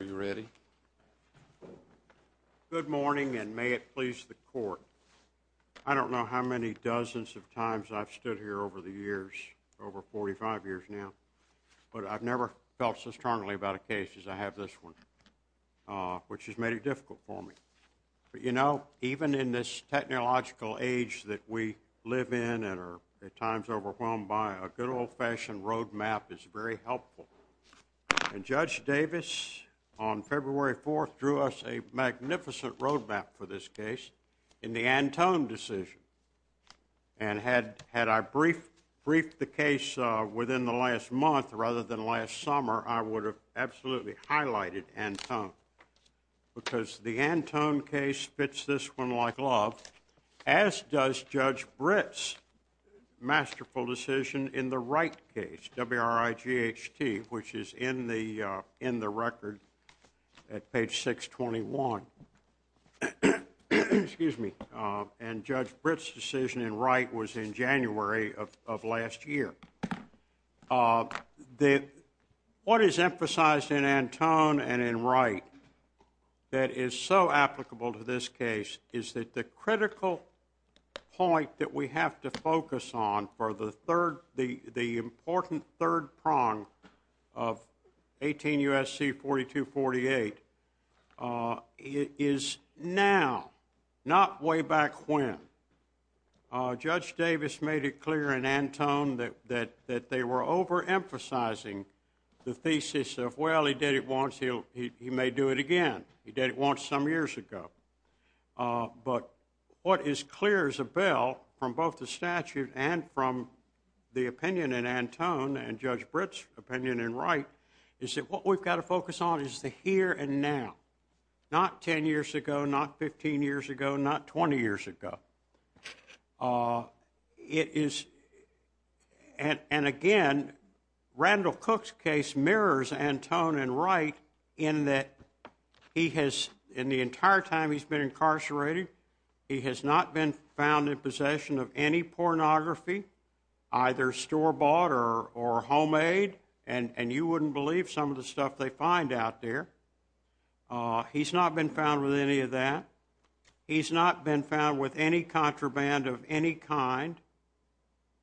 Are you ready? Good morning and may it please the court. I don't know how many dozens of times I've stood here over the years, over 45 years now, but I've never felt so strongly about a case as I have this one, which has made it difficult for me. But, you know, even in this technological age that we live in and are at times overwhelmed by, a good old-fashioned roadmap is very helpful. And Judge Davis on February 4th drew us a magnificent roadmap for this case in the Antone decision. And had I briefed the case within the last month rather than last summer, I would have absolutely highlighted Antone. Because the Antone case fits this one like a glove, as does Judge Britt's masterful decision in the Wright case, W-R-I-G-H-T, which is in the record at page 621. Excuse me, and Judge Britt's decision in Wright was in January of last year. What is emphasized in Antone and in Wright that is so applicable to this case is that the critical point that we have to focus on for the important third prong of 18 U.S.C. 4248 is now, not way back when. Judge Davis made it clear in Antone that they were overemphasizing the thesis of, well, he did it once, he may do it again. He did it once some years ago. But what is clear as a bell from both the statute and from the opinion in Antone and Judge Britt's opinion in Wright is that what we've got to focus on is the here and now. Not 10 years ago, not 15 years ago, not 20 years ago. It is, and again, Randall Cook's case mirrors Antone and Wright in that he has, in the entire time he's been incarcerated, he has not been found in possession of any pornography, either store-bought or homemade, and you wouldn't believe some of the stuff they find out there. He's not been found with any of that. He's not been found with any contraband of any kind.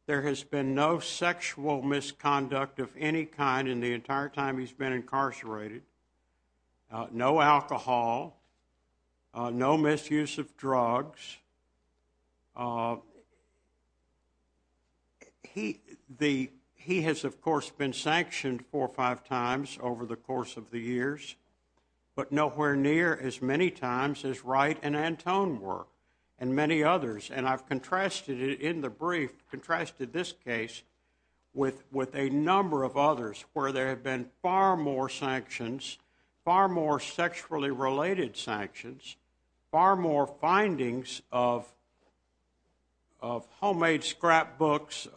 There has been no sexual misconduct of any kind in the entire time he's been incarcerated. No alcohol, no misuse of drugs. He has, of course, been sanctioned four or five times over the course of the years, but nowhere near as many times as Wright and Antone were and many others, and I've contrasted it in the brief, contrasted this case with a number of others where there have been far more sanctions, far more sexually-related sanctions, far more findings of homemade scrapbooks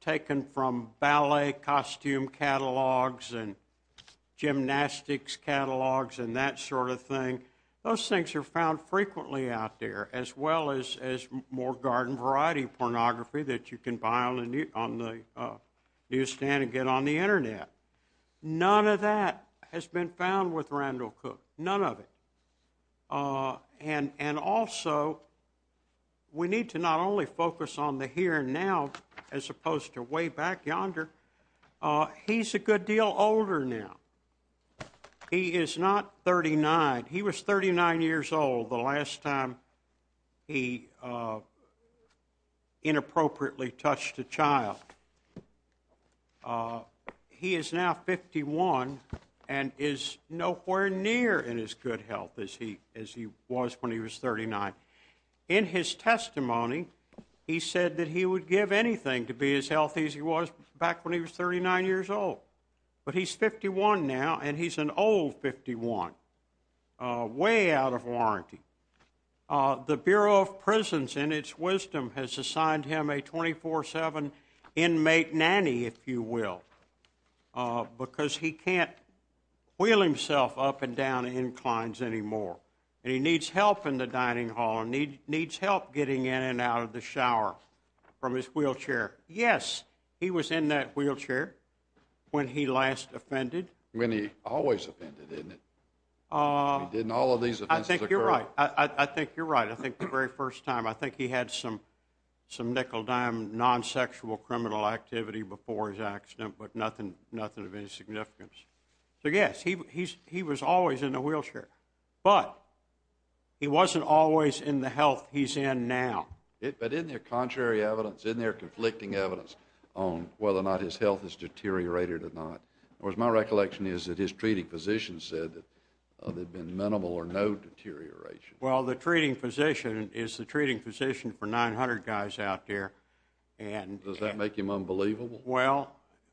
taken from ballet costume catalogs and gymnastics catalogs and that sort of thing. Those things are found frequently out there, as well as more garden-variety pornography that you can buy on the newsstand and get on the internet. None of that has been found with Randall Cook, none of it. And also, we need to not only focus on the here and now as opposed to way back yonder, he's a good deal older now. He is not 39. He was 39 years old the last time he inappropriately touched a child. But he is now 51 and is nowhere near in as good health as he was when he was 39. In his testimony, he said that he would give anything to be as healthy as he was back when he was 39 years old, but he's 51 now and he's an old 51, way out of warranty. The Bureau of Prisons, in its wisdom, has assigned him a 24-7 inmate nanny, if you will, because he can't wheel himself up and down inclines anymore. And he needs help in the dining hall and needs help getting in and out of the shower from his wheelchair. Yes, he was in that wheelchair when he last offended. When he always offended, didn't he? Didn't all of these offenses occur? I think you're right. I think the very first time, I think he had some nickel-dime non-sexual criminal activity before his accident, but nothing of any significance. So yes, he was always in a wheelchair, but he wasn't always in the health he's in now. But isn't there contrary evidence, isn't there conflicting evidence on whether or not his health has deteriorated or not? Whereas my recollection is that his treating physician said that there'd been minimal or no deterioration. Well, the treating physician is the treating physician for 900 guys out there. Does that make him unbelievable? Well,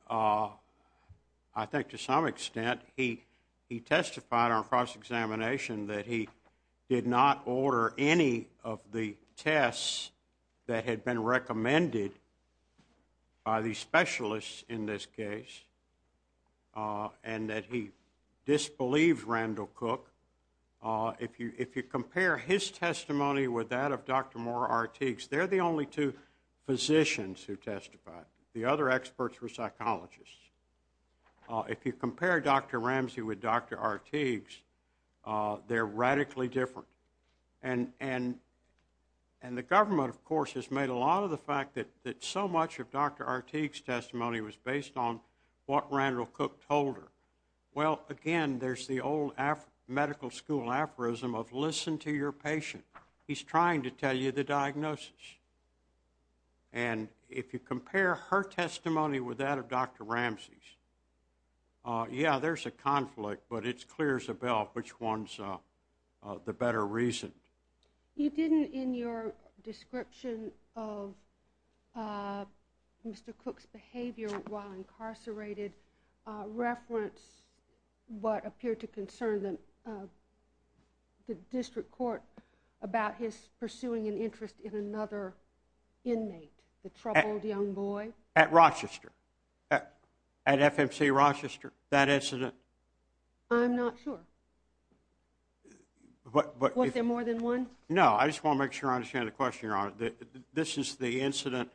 I think to some extent. He testified on cross-examination that he did not order any of the tests that had been recommended by the specialists in this case and that he disbelieved Randall Cook. If you compare his testimony with that of Dr. Moore-Arteagues, they're the only two physicians who testified. The other experts were psychologists. If you compare Dr. Ramsey with Dr. Arteagues, they're radically different. And the government, of course, has made a lot of the fact that so much of Dr. Arteagues' testimony was based on what Randall Cook told her. Well, again, there's the old medical school aphorism of listen to your patient. He's trying to tell you the diagnosis. And if you compare her testimony with that of Dr. Ramsey's, yeah, there's a conflict, but it's clear as a bell which one's the better reason. You didn't, in your description of Mr. Cook's behavior while incarcerated, reference what appeared to concern the district court about his pursuing an interest in another inmate, the troubled young boy? At Rochester. At FMC Rochester, that incident. I'm not sure. Was there more than one? No. I just want to make sure I understand the question, Your Honor. This is the incident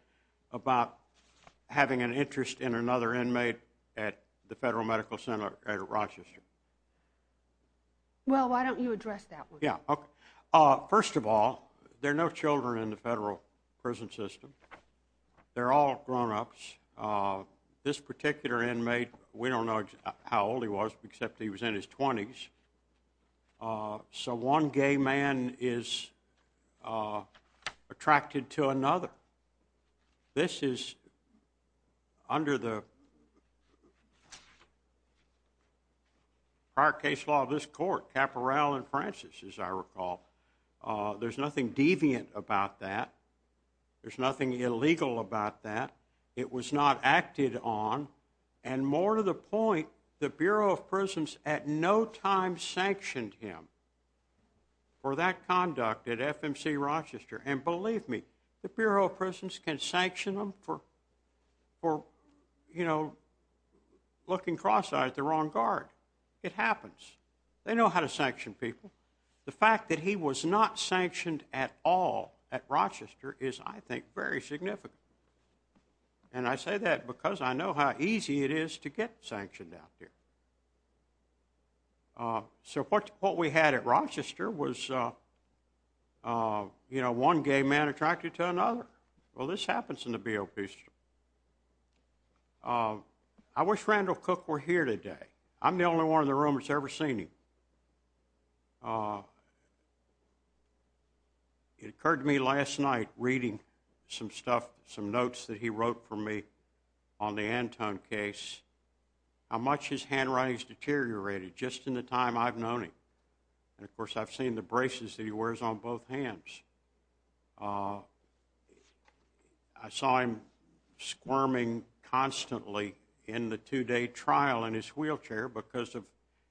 about having an interest in another inmate at the Federal Medical Center at Rochester. Well, why don't you address that one? Yeah. First of all, there are no children in the federal prison system. They're all grownups. This particular inmate, we don't know how old he was, except he was in his 20s. So one gay man is attracted to another. This is under the prior case law of this court, Caporal and Francis, as I recall. There's nothing deviant about that. There's nothing illegal about that. It was not acted on. And more to the point, the Bureau of Prisons at no time sanctioned him for that conduct at FMC Rochester. And believe me, the Bureau of Prisons can sanction them for looking cross-eyed at the wrong guard. It happens. They know how to sanction people. The fact that he was not sanctioned at all at Rochester is, I think, very significant. And I say that because I know how easy it is to get sanctioned out there. So what we had at Rochester was, you know, one gay man attracted to another. Well, this happens in the BOP system. I wish Randall Cook were here today. I'm the only one in the room that's ever seen him. It occurred to me last night, reading some stuff, some notes that he wrote for me on the Anton case, how much his handwriting has deteriorated just in the time I've known him. And, of course, I've seen the braces that he wears on both hands. I saw him squirming constantly in the two-day trial in his wheelchair because of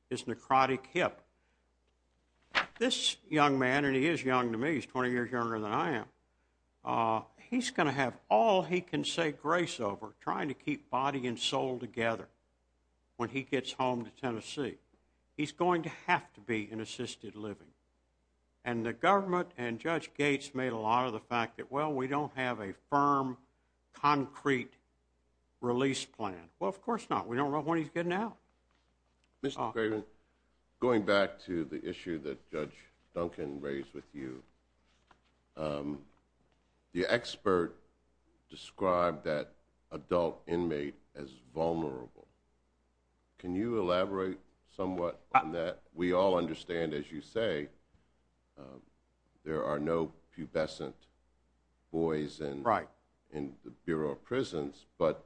his necrotic hip. This young man, and he is young to me, he's 20 years younger than I am, he's going to have all he can say grace over trying to keep body and soul together when he gets home to Tennessee. He's going to have to be in assisted living. And the government and Judge Gates made a lot of the fact that, well, we don't have a firm, concrete release plan. Well, of course not. We don't know when he's getting out. Mr. Craven, going back to the issue that Judge Duncan raised with you, the expert described that adult inmate as vulnerable. Can you elaborate somewhat on that? We all understand, as you say, there are no pubescent boys in the Bureau of Prisons. But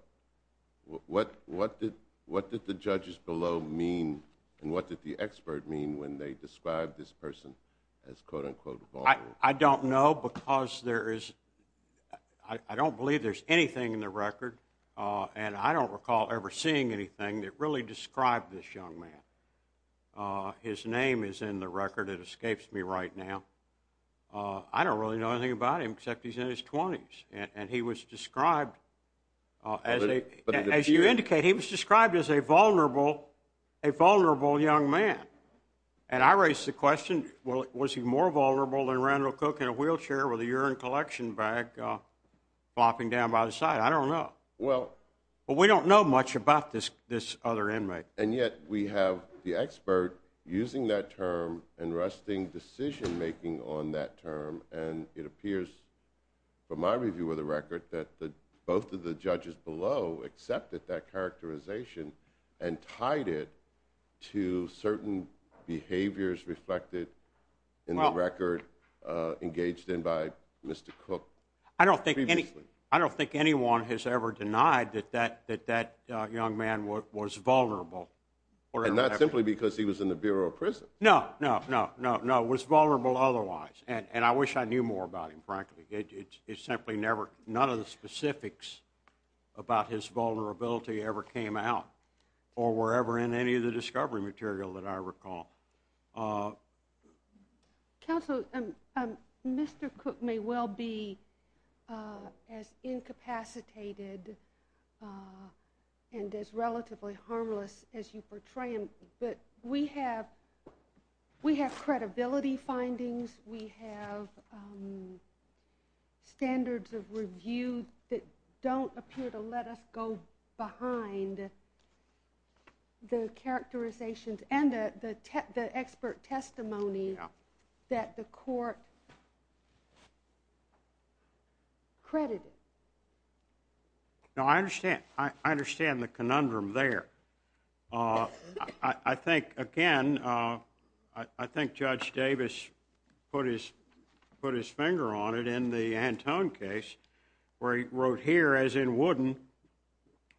what did the judges below mean and what did the expert mean when they described this person as, quote, unquote, vulnerable? I don't know because I don't believe there's anything in the record, and I don't recall ever seeing anything that really described this young man. His name is in the record. It escapes me right now. I don't really know anything about him except he's in his 20s. And he was described, as you indicate, he was described as a vulnerable young man. And I raise the question, was he more vulnerable than Randall Cook in a wheelchair with a urine collection bag flopping down by the side? I don't know. But we don't know much about this other inmate. And yet we have the expert using that term and resting decision-making on that term. And it appears, from my review of the record, that both of the judges below accepted that characterization and tied it to certain behaviors reflected in the record engaged in by Mr. Cook previously. I don't think anyone has ever denied that that young man was vulnerable. And not simply because he was in the Bureau of Prisons. No, no, no, no, no. It was vulnerable otherwise. And I wish I knew more about him, frankly. None of the specifics about his vulnerability ever came out or were ever in any of the discovery material that I recall. Counsel, Mr. Cook may well be as incapacitated and as relatively harmless as you portray him. But we have credibility findings. We have standards of review that don't appear to let us go behind the characterizations and the expert testimony that the court credited. No, I understand. I understand the conundrum there. I think, again, I think Judge Davis put his finger on it in the Antone case where he wrote here, as in Wooden,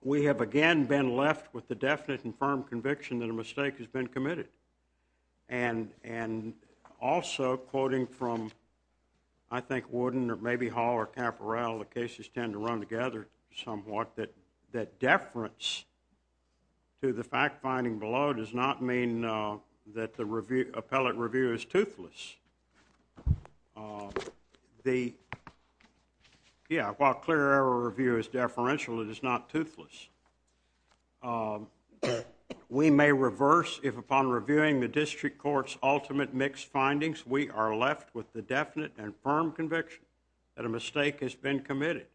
we have again been left with the definite and firm conviction that a mistake has been committed. And also, quoting from, I think, Wooden or maybe Hall or Caporal, the cases tend to run somewhat that deference to the fact finding below does not mean that the appellate review is toothless. The, yeah, while clear error review is deferential, it is not toothless. We may reverse if upon reviewing the district court's ultimate mixed findings, we are left with the definite and firm conviction that a mistake has been committed.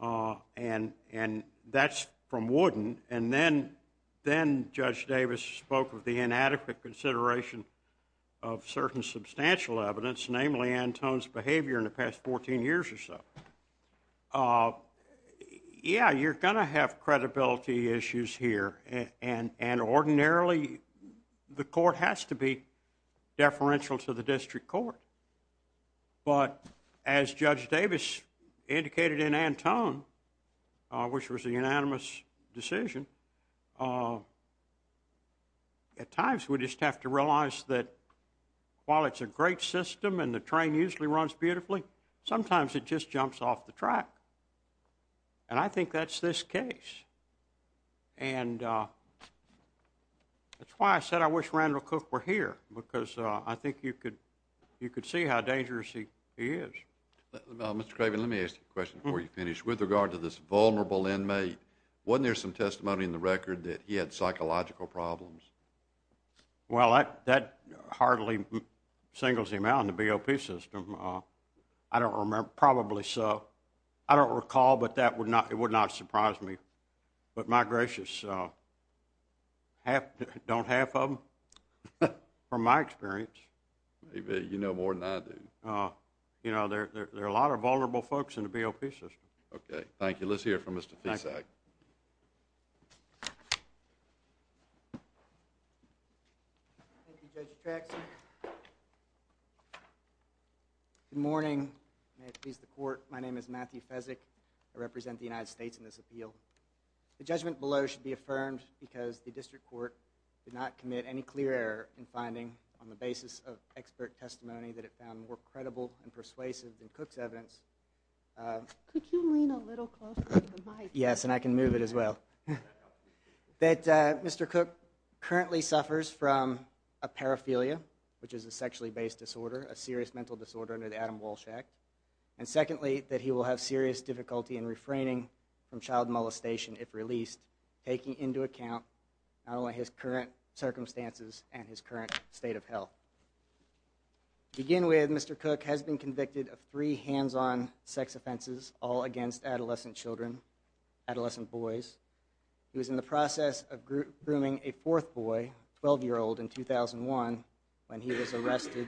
And that's from Wooden. And then Judge Davis spoke of the inadequate consideration of certain substantial evidence, namely Antone's behavior in the past 14 years or so. Yeah, you're going to have credibility issues here. And ordinarily, the court has to be deferential to the district court. But as Judge Davis indicated in Antone, which was a unanimous decision, at times we just have to realize that while it's a great system and the train usually runs beautifully, sometimes it just jumps off the track. And I think that's this case. And that's why I said I wish Randall Cook were here, because I think you could see how dangerous he is. Mr. Craven, let me ask you a question before you finish. With regard to this vulnerable inmate, wasn't there some testimony in the record that he had psychological problems? Well, that hardly singles him out in the BOP system. I don't remember. Probably so. I don't recall, but it would not surprise me. But my gracious, don't half of them? From my experience. Maybe you know more than I do. You know, there are a lot of vulnerable folks in the BOP system. OK. Thank you. Let's hear from Mr. Fisak. Thank you, Judge Traxson. Good morning. May it please the court. My name is Matthew Fisak. I represent the United States in this appeal. The judgment below should be affirmed because the district court did not commit any clear error in finding on the basis of expert testimony that it found more credible and persuasive than Cook's evidence. Could you lean a little closer to the mic? Yes, and I can move it as well. That Mr. Cook currently suffers from a paraphilia, which is a sexually based disorder, a serious mental disorder under the Adam Walsh Act. And secondly, that he will have serious difficulty in refraining from child molestation if released, taking into account not only his current circumstances and his current state of health. To begin with, Mr. Cook has been convicted of three hands-on sex offenses, all against adolescent children, adolescent boys. He was in the process of grooming a fourth boy, a 12-year-old in 2001, when he was arrested,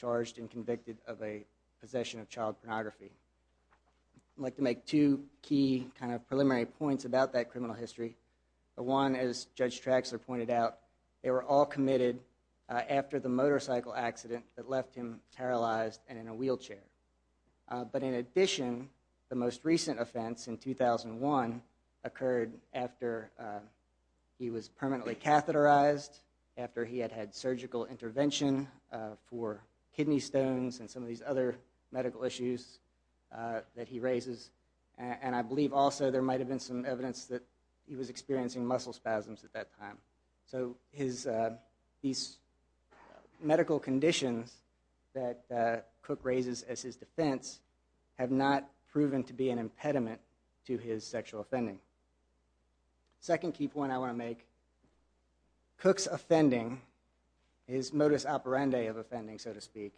charged, and convicted of a possession of child pornography. I'd like to make two key kind of preliminary points about that criminal history. One, as Judge Traxler pointed out, they were all committed after the motorcycle accident that left him paralyzed and in a wheelchair. But in addition, the most recent offense in 2001 occurred after he was permanently catheterized, after he had had surgical intervention for kidney stones and some of these other medical issues that he raises. And I believe also there might have been some evidence that he was experiencing muscle spasms at that time. So these medical conditions that Cook raises as his defense have not proven to be an impediment to his sexual offending. The second key point I want to make, Cook's offending, his modus operandi of offending, so to speak,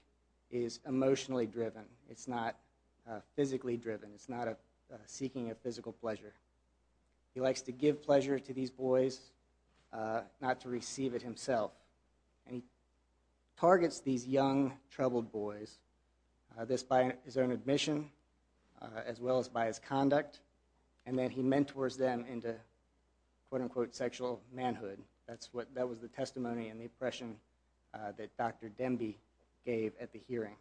is emotionally driven. It's not physically driven. It's not a seeking of physical pleasure. He likes to give pleasure to these boys, not to receive it himself. And he targets these young, troubled boys, this by his own admission, as well as by his conduct. And then he mentors them into, quote unquote, sexual manhood. That was the testimony and the impression that Dr. Demby gave at the hearing.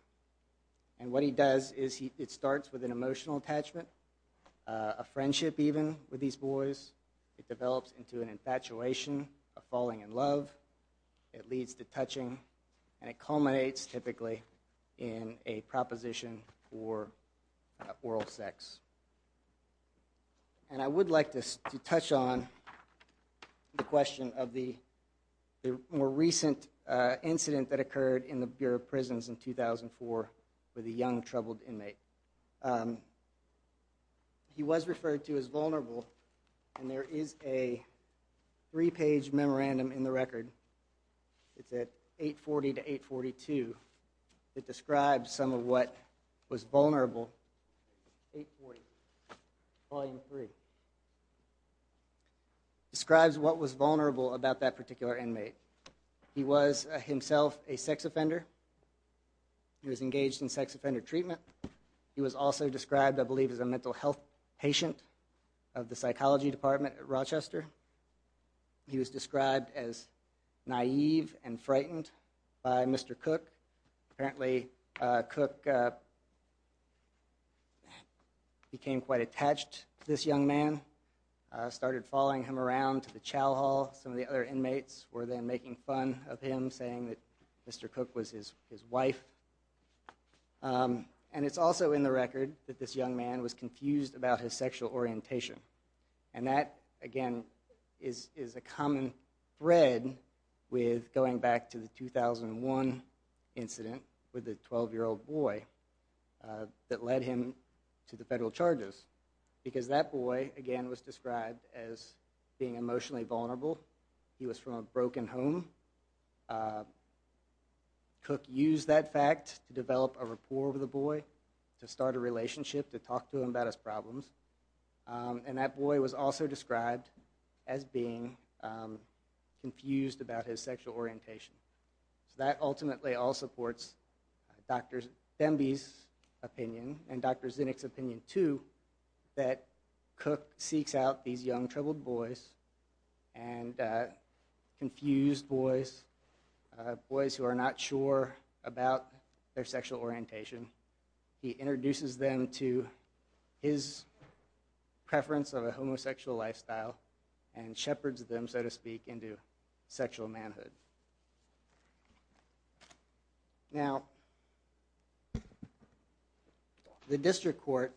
And what he does is it starts with an emotional attachment, a friendship even, with these boys. It develops into an infatuation, a falling in love. It leads to touching. And it culminates, typically, in a proposition for oral sex. And I would like to touch on the question of the more recent incident that occurred in the Bureau of Prisons in 2004 with a young, troubled inmate. He was referred to as vulnerable. And there is a three-page memorandum in the record. It's at 840 to 842 that describes some of what was vulnerable. 840, volume three, describes what was vulnerable about that particular inmate. He was himself a sex offender. He was engaged in sex offender treatment. He was also described, I believe, as a mental health patient of the psychology department at Rochester. He was described as naive and frightened by Mr. Cook. Apparently, Cook became quite attached to this young man, started following him around to the chow hall. Some of the other inmates were then making fun of him, saying that Mr. Cook was his wife. And it's also in the record that this young man was confused about his sexual orientation. And that, again, is a common thread with going back to the 2001 incident with the 12-year-old boy that led him to the federal charges. Because that boy, again, was described as being emotionally vulnerable. He was from a broken home. Cook used that fact to develop a rapport with the boy, to start a relationship, to talk to him about his problems. And that boy was also described as being confused about his sexual orientation. So that ultimately all supports Dr. Demby's opinion and Dr. Zinnick's opinion, too, that Cook seeks out these young, troubled boys and confused boys, boys who are not sure about their sexual orientation. He introduces them to his preference of a homosexual lifestyle and shepherds them, so to speak, into sexual manhood. Now, the district court,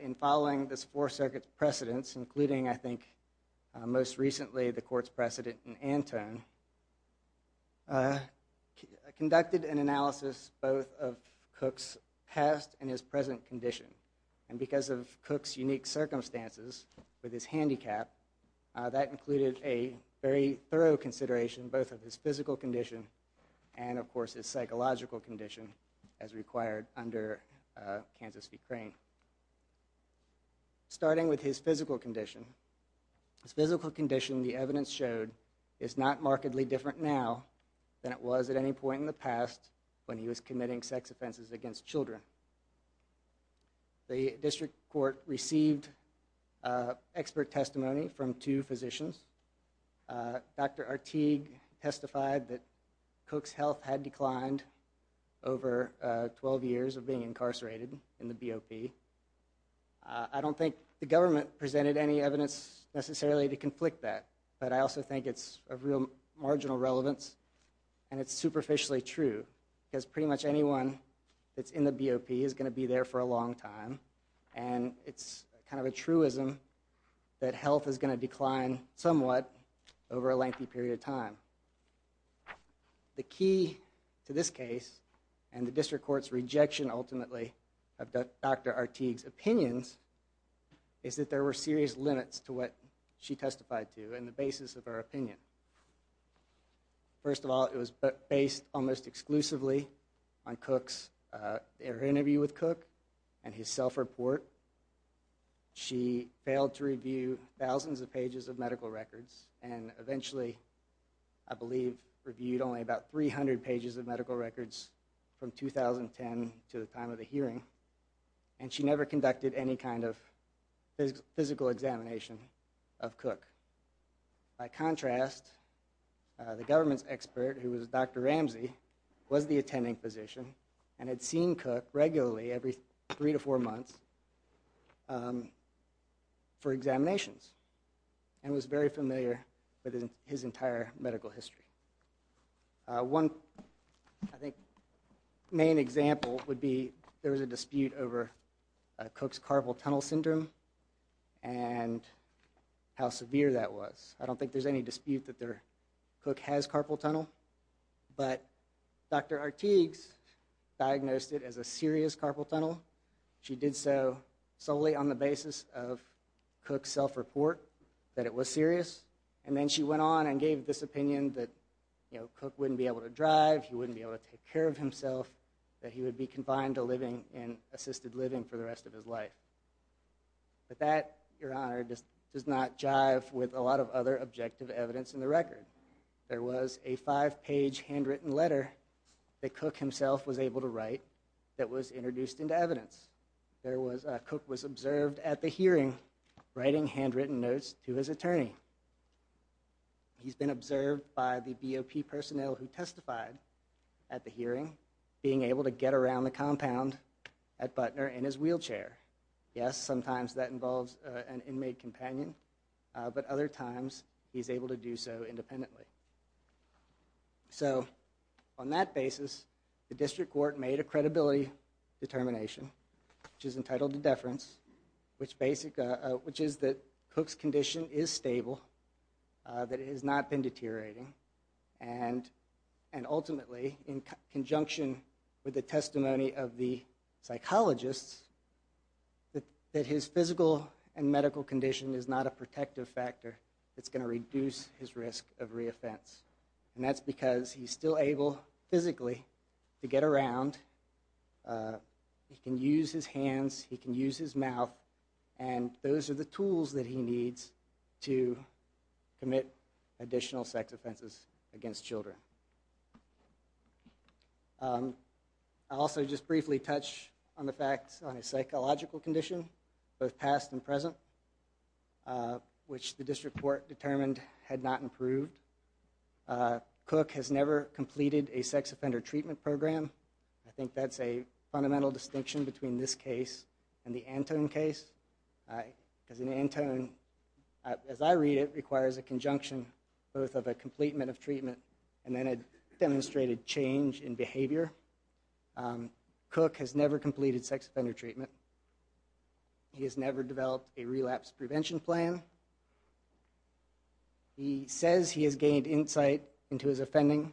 in following this Fourth Circuit's precedents, including, I assume, conducted an analysis both of Cook's past and his present condition. And because of Cook's unique circumstances with his handicap, that included a very thorough consideration both of his physical condition and, of course, his psychological condition as required under Kansas v. Crane. Starting with his physical condition, his physical condition, the evidence showed, is not markedly different now than it was at any point in the past when he was committing sex offenses against children. The district court received expert testimony from two physicians. Dr. Arteag testified that Cook's health had declined over 12 years of being incarcerated in the BOP. I don't think the government presented any evidence necessarily to conflict that. But I also think it's of real marginal relevance. And it's superficially true, because pretty much anyone that's in the BOP is going to be there for a long time. And it's kind of a truism that health is going to decline somewhat over a lengthy period of time. The key to this case and the district court's rejection, ultimately, of Dr. Arteag's opinions is that there were serious limits to what she testified to and the basis of her opinion. First of all, it was based almost exclusively on Cook's interview with Cook and his self report. She failed to review thousands of pages of medical records and eventually, I believe, reviewed only about 300 pages of medical records from 2010 to the time of the hearing. And she never conducted any kind of physical examination of Cook. By contrast, the government's expert, who was Dr. Ramsey, was the attending physician and had seen Cook regularly every three to four months for examinations and was very familiar with his entire medical history. One, I think, main example would be there was a dispute over Cook's carpal tunnel syndrome and how severe that was. I don't think there's any dispute that Cook has carpal tunnel, but Dr. Arteag's diagnosed it as a serious carpal tunnel. She did so solely on the basis of Cook's self report, that it was serious. And then she went on and gave this opinion that Cook wouldn't be able to drive, he wouldn't be able to take care of himself, that he would be confined to assisted living for the rest of his life. But that, Your Honor, does not jive with a lot of other objective evidence in the record. There was a five-page handwritten letter that Cook himself was able to write that was introduced into evidence. He's been observed by the BOP personnel who testified at the hearing, being able to get around the compound at Butner in his wheelchair. Yes, sometimes that involves an inmate companion, but other times he's able to do so independently. So on that basis, the district court made a credibility determination, which is entitled to deference, which is that Cook's condition is stable, that it has not been deteriorating. And ultimately, in conjunction with the testimony of the psychologists, that his physical and medical condition is not a protective factor that's going to reduce his risk of re-offense. And that's because he's still able, physically, to get around. He can use his hands. He can use his mouth. And those are the tools that he needs to commit additional sex offenses against children. I'll also just briefly touch on the facts on his psychological condition, both past and present, which the district court determined had not improved. Cook has never completed a sex offender treatment program. I think that's a fundamental distinction between this case and the Antone case. Because in Antone, as I read it, requires a conjunction, both of a completion of treatment and then a demonstrated change in behavior. Cook has never completed sex offender treatment. He has never developed a relapse prevention plan. He says he has gained insight into his offending,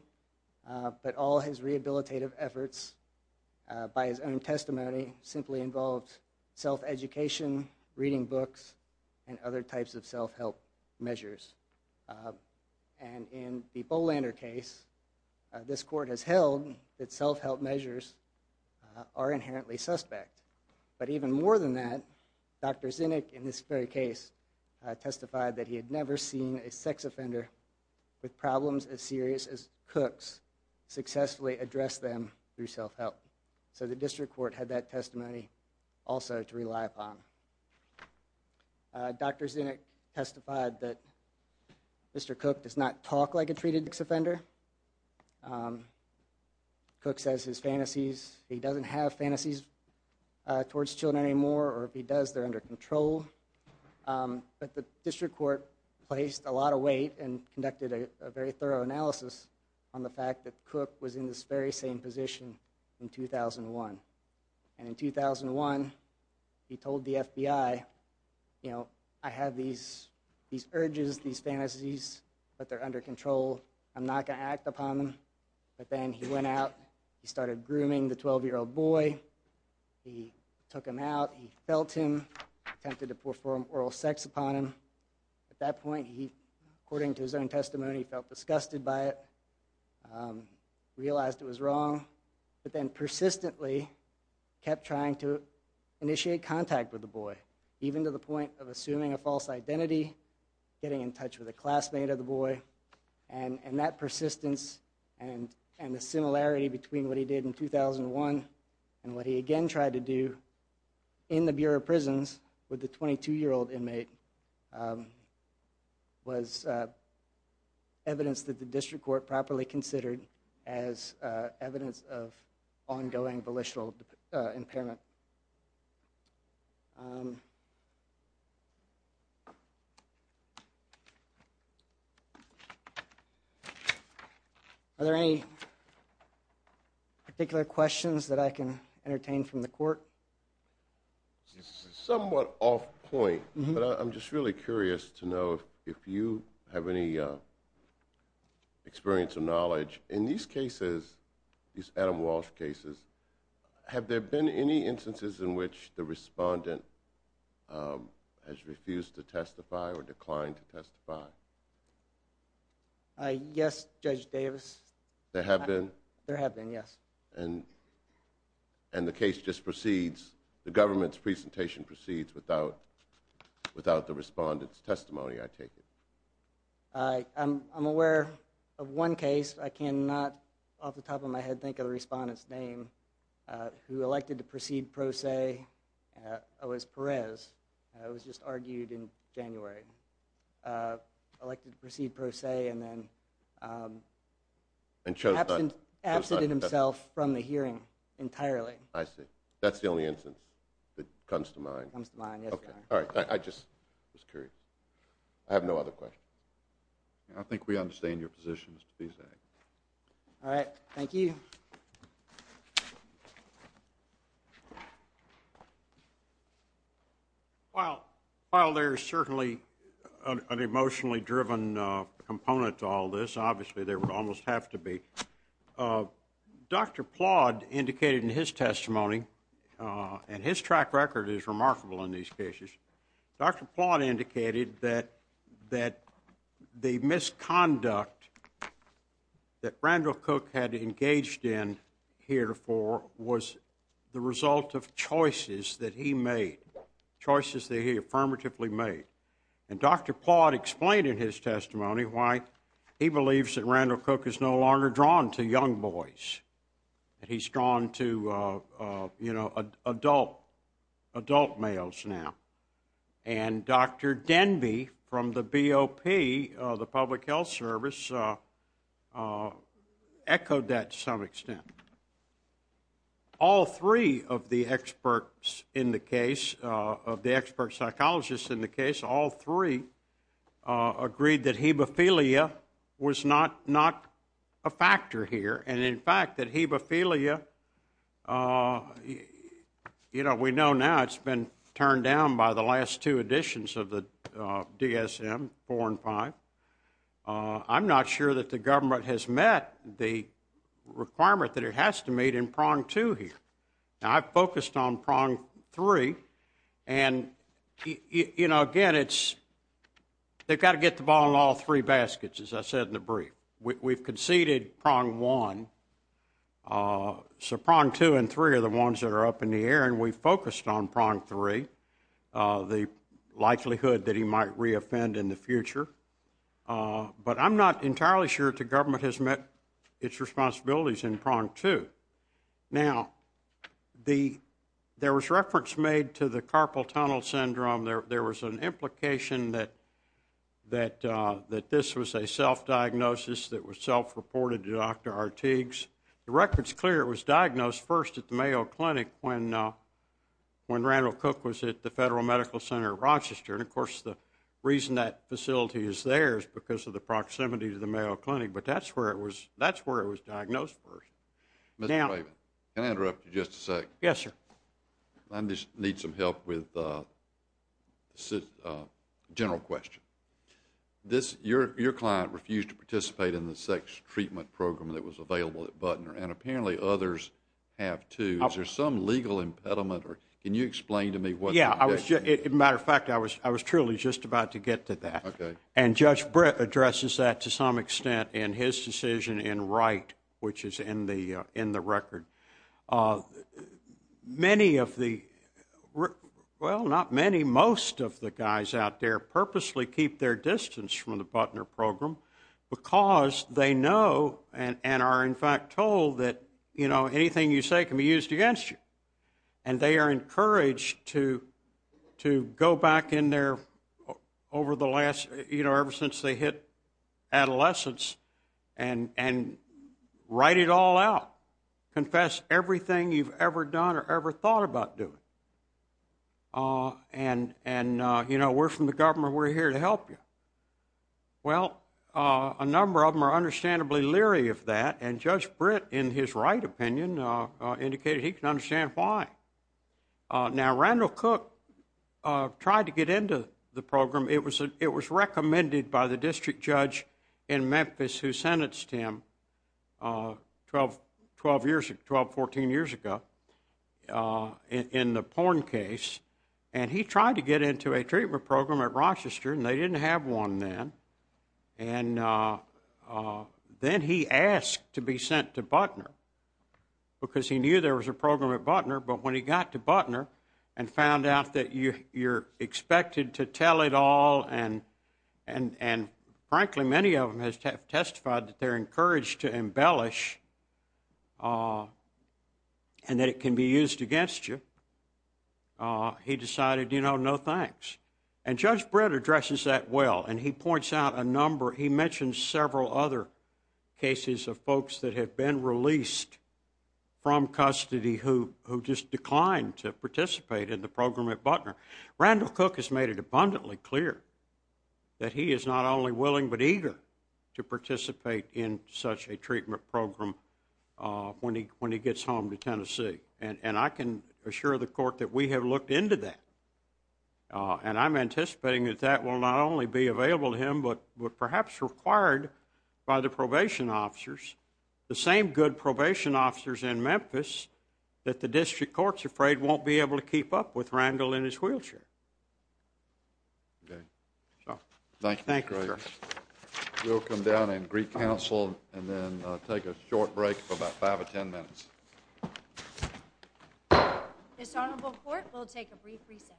but all his rehabilitative efforts by his own testimony simply involved self-education, reading books, and other types of self-help measures. And in the Bolander case, this court has held that self-help measures are inherently suspect. But even more than that, Dr. Zinnick in this very case testified that he had never seen a sex offender with problems as serious as Cook's successfully address them through self-help. So the district court had that testimony also to rely upon. Dr. Zinnick testified that Mr. Cook does not talk like a treated sex offender. Cook says his fantasies, he doesn't have fantasies towards children anymore, or if he does, they're under control. But the district court placed a lot of weight and conducted a very thorough analysis on the fact that Cook was in this very same position in 2001. And in 2001, he told the FBI, you know, I have these urges, these fantasies, but they're under control. I'm not going to act upon them. But then he went out, he started grooming the 12-year-old boy, he took him out, he felt him, attempted to perform oral sex upon him. At that point, he, according to his own testimony, felt disgusted by it, realized it was wrong, but then persistently kept trying to initiate contact with the boy, even to the point of And that persistence and the similarity between what he did in 2001 and what he again tried to do in the Bureau of Prisons with the 22-year-old inmate was evidence that the district court properly considered as evidence of ongoing volitional impairment. Are there any particular questions that I can entertain from the court? Somewhat off point, but I'm just really curious to know if you have any experience or knowledge. In these cases, these Adam Walsh cases, have there been any instances in which the respondent has refused to testify or declined to testify? Uh, yes, Judge Davis. There have been? There have been, yes. And the case just proceeds, the government's presentation proceeds without the respondent's testimony, I take it? Uh, I'm aware of one case, I cannot off the top of my head think of the respondent's name, who elected to proceed pro se, it was Perez, it was just argued in January. Elected to proceed pro se and then, um, absented himself from the hearing entirely. I see. That's the only instance that comes to mind? Comes to mind, yes, Your Honor. All right, I just was curious. I have no other questions. I think we understand your positions to this day. All right, thank you. Uh, while, while there's certainly an emotionally driven, uh, component to all this, obviously there would almost have to be, uh, Dr. Plodd indicated in his testimony, uh, and his track record is remarkable in these cases, Dr. Plodd indicated that, that the misconduct that Randall Cook had engaged in here for, was the result of choices that he made, choices that he affirmatively made, and Dr. Plodd explained in his testimony why he believes that Randall Cook is no longer drawn to young boys, that he's drawn to, uh, uh, you know, adult, adult males now. And Dr. Denby from the BOP, uh, the Public Health Service, uh, uh, echoed that to some extent. All three of the experts in the case, uh, of the expert psychologists in the case, all three, uh, agreed that hemophilia was not, not a factor here. And in fact, that hemophilia, uh, you know, we know now it's been turned down by the last two editions of the, uh, DSM, four and five. Uh, I'm not sure that the government has met the requirement that it has to meet in prong two here. Now, I've focused on prong three, and, you know, again, it's, they've got to get the ball in all three baskets, as I said in the brief. We've conceded prong one, uh, so prong two and three are the ones that are up in the air, and we've focused on prong three, uh, the likelihood that he might re-offend in the future. Uh, but I'm not entirely sure the government has met its responsibilities in prong two. Now, the, there was reference made to the carpal tunnel syndrome. There was an implication that, that, uh, that this was a self-diagnosis that was self-reported to Dr. Artigues. The record's clear it was diagnosed first at the Mayo Clinic when, uh, when Randall Cook was at the Federal Medical Center of Rochester. And, of course, the reason that facility is there is because of the proximity to the Mayo Clinic. But that's where it was, that's where it was diagnosed first. Now, Mr. Waven, can I interrupt you just a sec? Yes, sir. I just need some help with, uh, this, uh, general question. This, your, your client refused to participate in the sex treatment program that was available at Butner, and apparently others have, too. Is there some legal impediment, or can you explain to me what? Yeah, I was just, as a matter of fact, I was, I was truly just about to get to that. Okay. And Judge Britt addresses that to some extent in his decision in Wright, which is in the, in the record. Uh, many of the, well, not many, most of the guys out there purposely keep their distance from the Butner program because they know and, and are, in fact, told that, you know, anything you say can be used against you. And they are encouraged to, to go back in there over the last, you know, ever since they hit adolescence and, and write it all out. Confess everything you've ever done or ever thought about doing. Uh, and, and, uh, you know, we're from the government. We're here to help you. Well, uh, a number of them are understandably leery of that, and Judge Britt, in his Wright opinion, uh, uh, indicated he can understand why. Uh, now, Randall Cook, uh, tried to get into the program. It was a, it was recommended by the district judge in Memphis who sentenced him, uh, 12, 12 years, 12, 14 years ago, uh, in, in the porn case, and he tried to get into a treatment program at Rochester, and they didn't have one then. And, uh, uh, then he asked to be sent to Butner because he knew there was a program at Butner, but when he got to Butner and found out that you, you're expected to tell it all and, and, and frankly, many of them have testified that they're encouraged to embellish, uh, and that it can be used against you, uh, he decided, you know, no thanks. And Judge Britt addresses that well, and he points out a number, he mentioned several other cases of folks that have been released from custody who, who just declined to participate in the program at Butner. Randall Cook has made it abundantly clear that he is not only willing but eager to participate in such a treatment program, uh, when he, when he gets home to Tennessee, and, and I can assure the court that we have looked into that, uh, and I'm anticipating that that will not only be available to him but, but perhaps required by the probation officers, the same good probation officers in Memphis that the district court's afraid won't be able to keep up with Randall in his wheelchair. Okay, so thank you. Thank you, sir. We'll come down and greet counsel and then take a short break for about five or ten minutes. This honorable court will take a brief reset.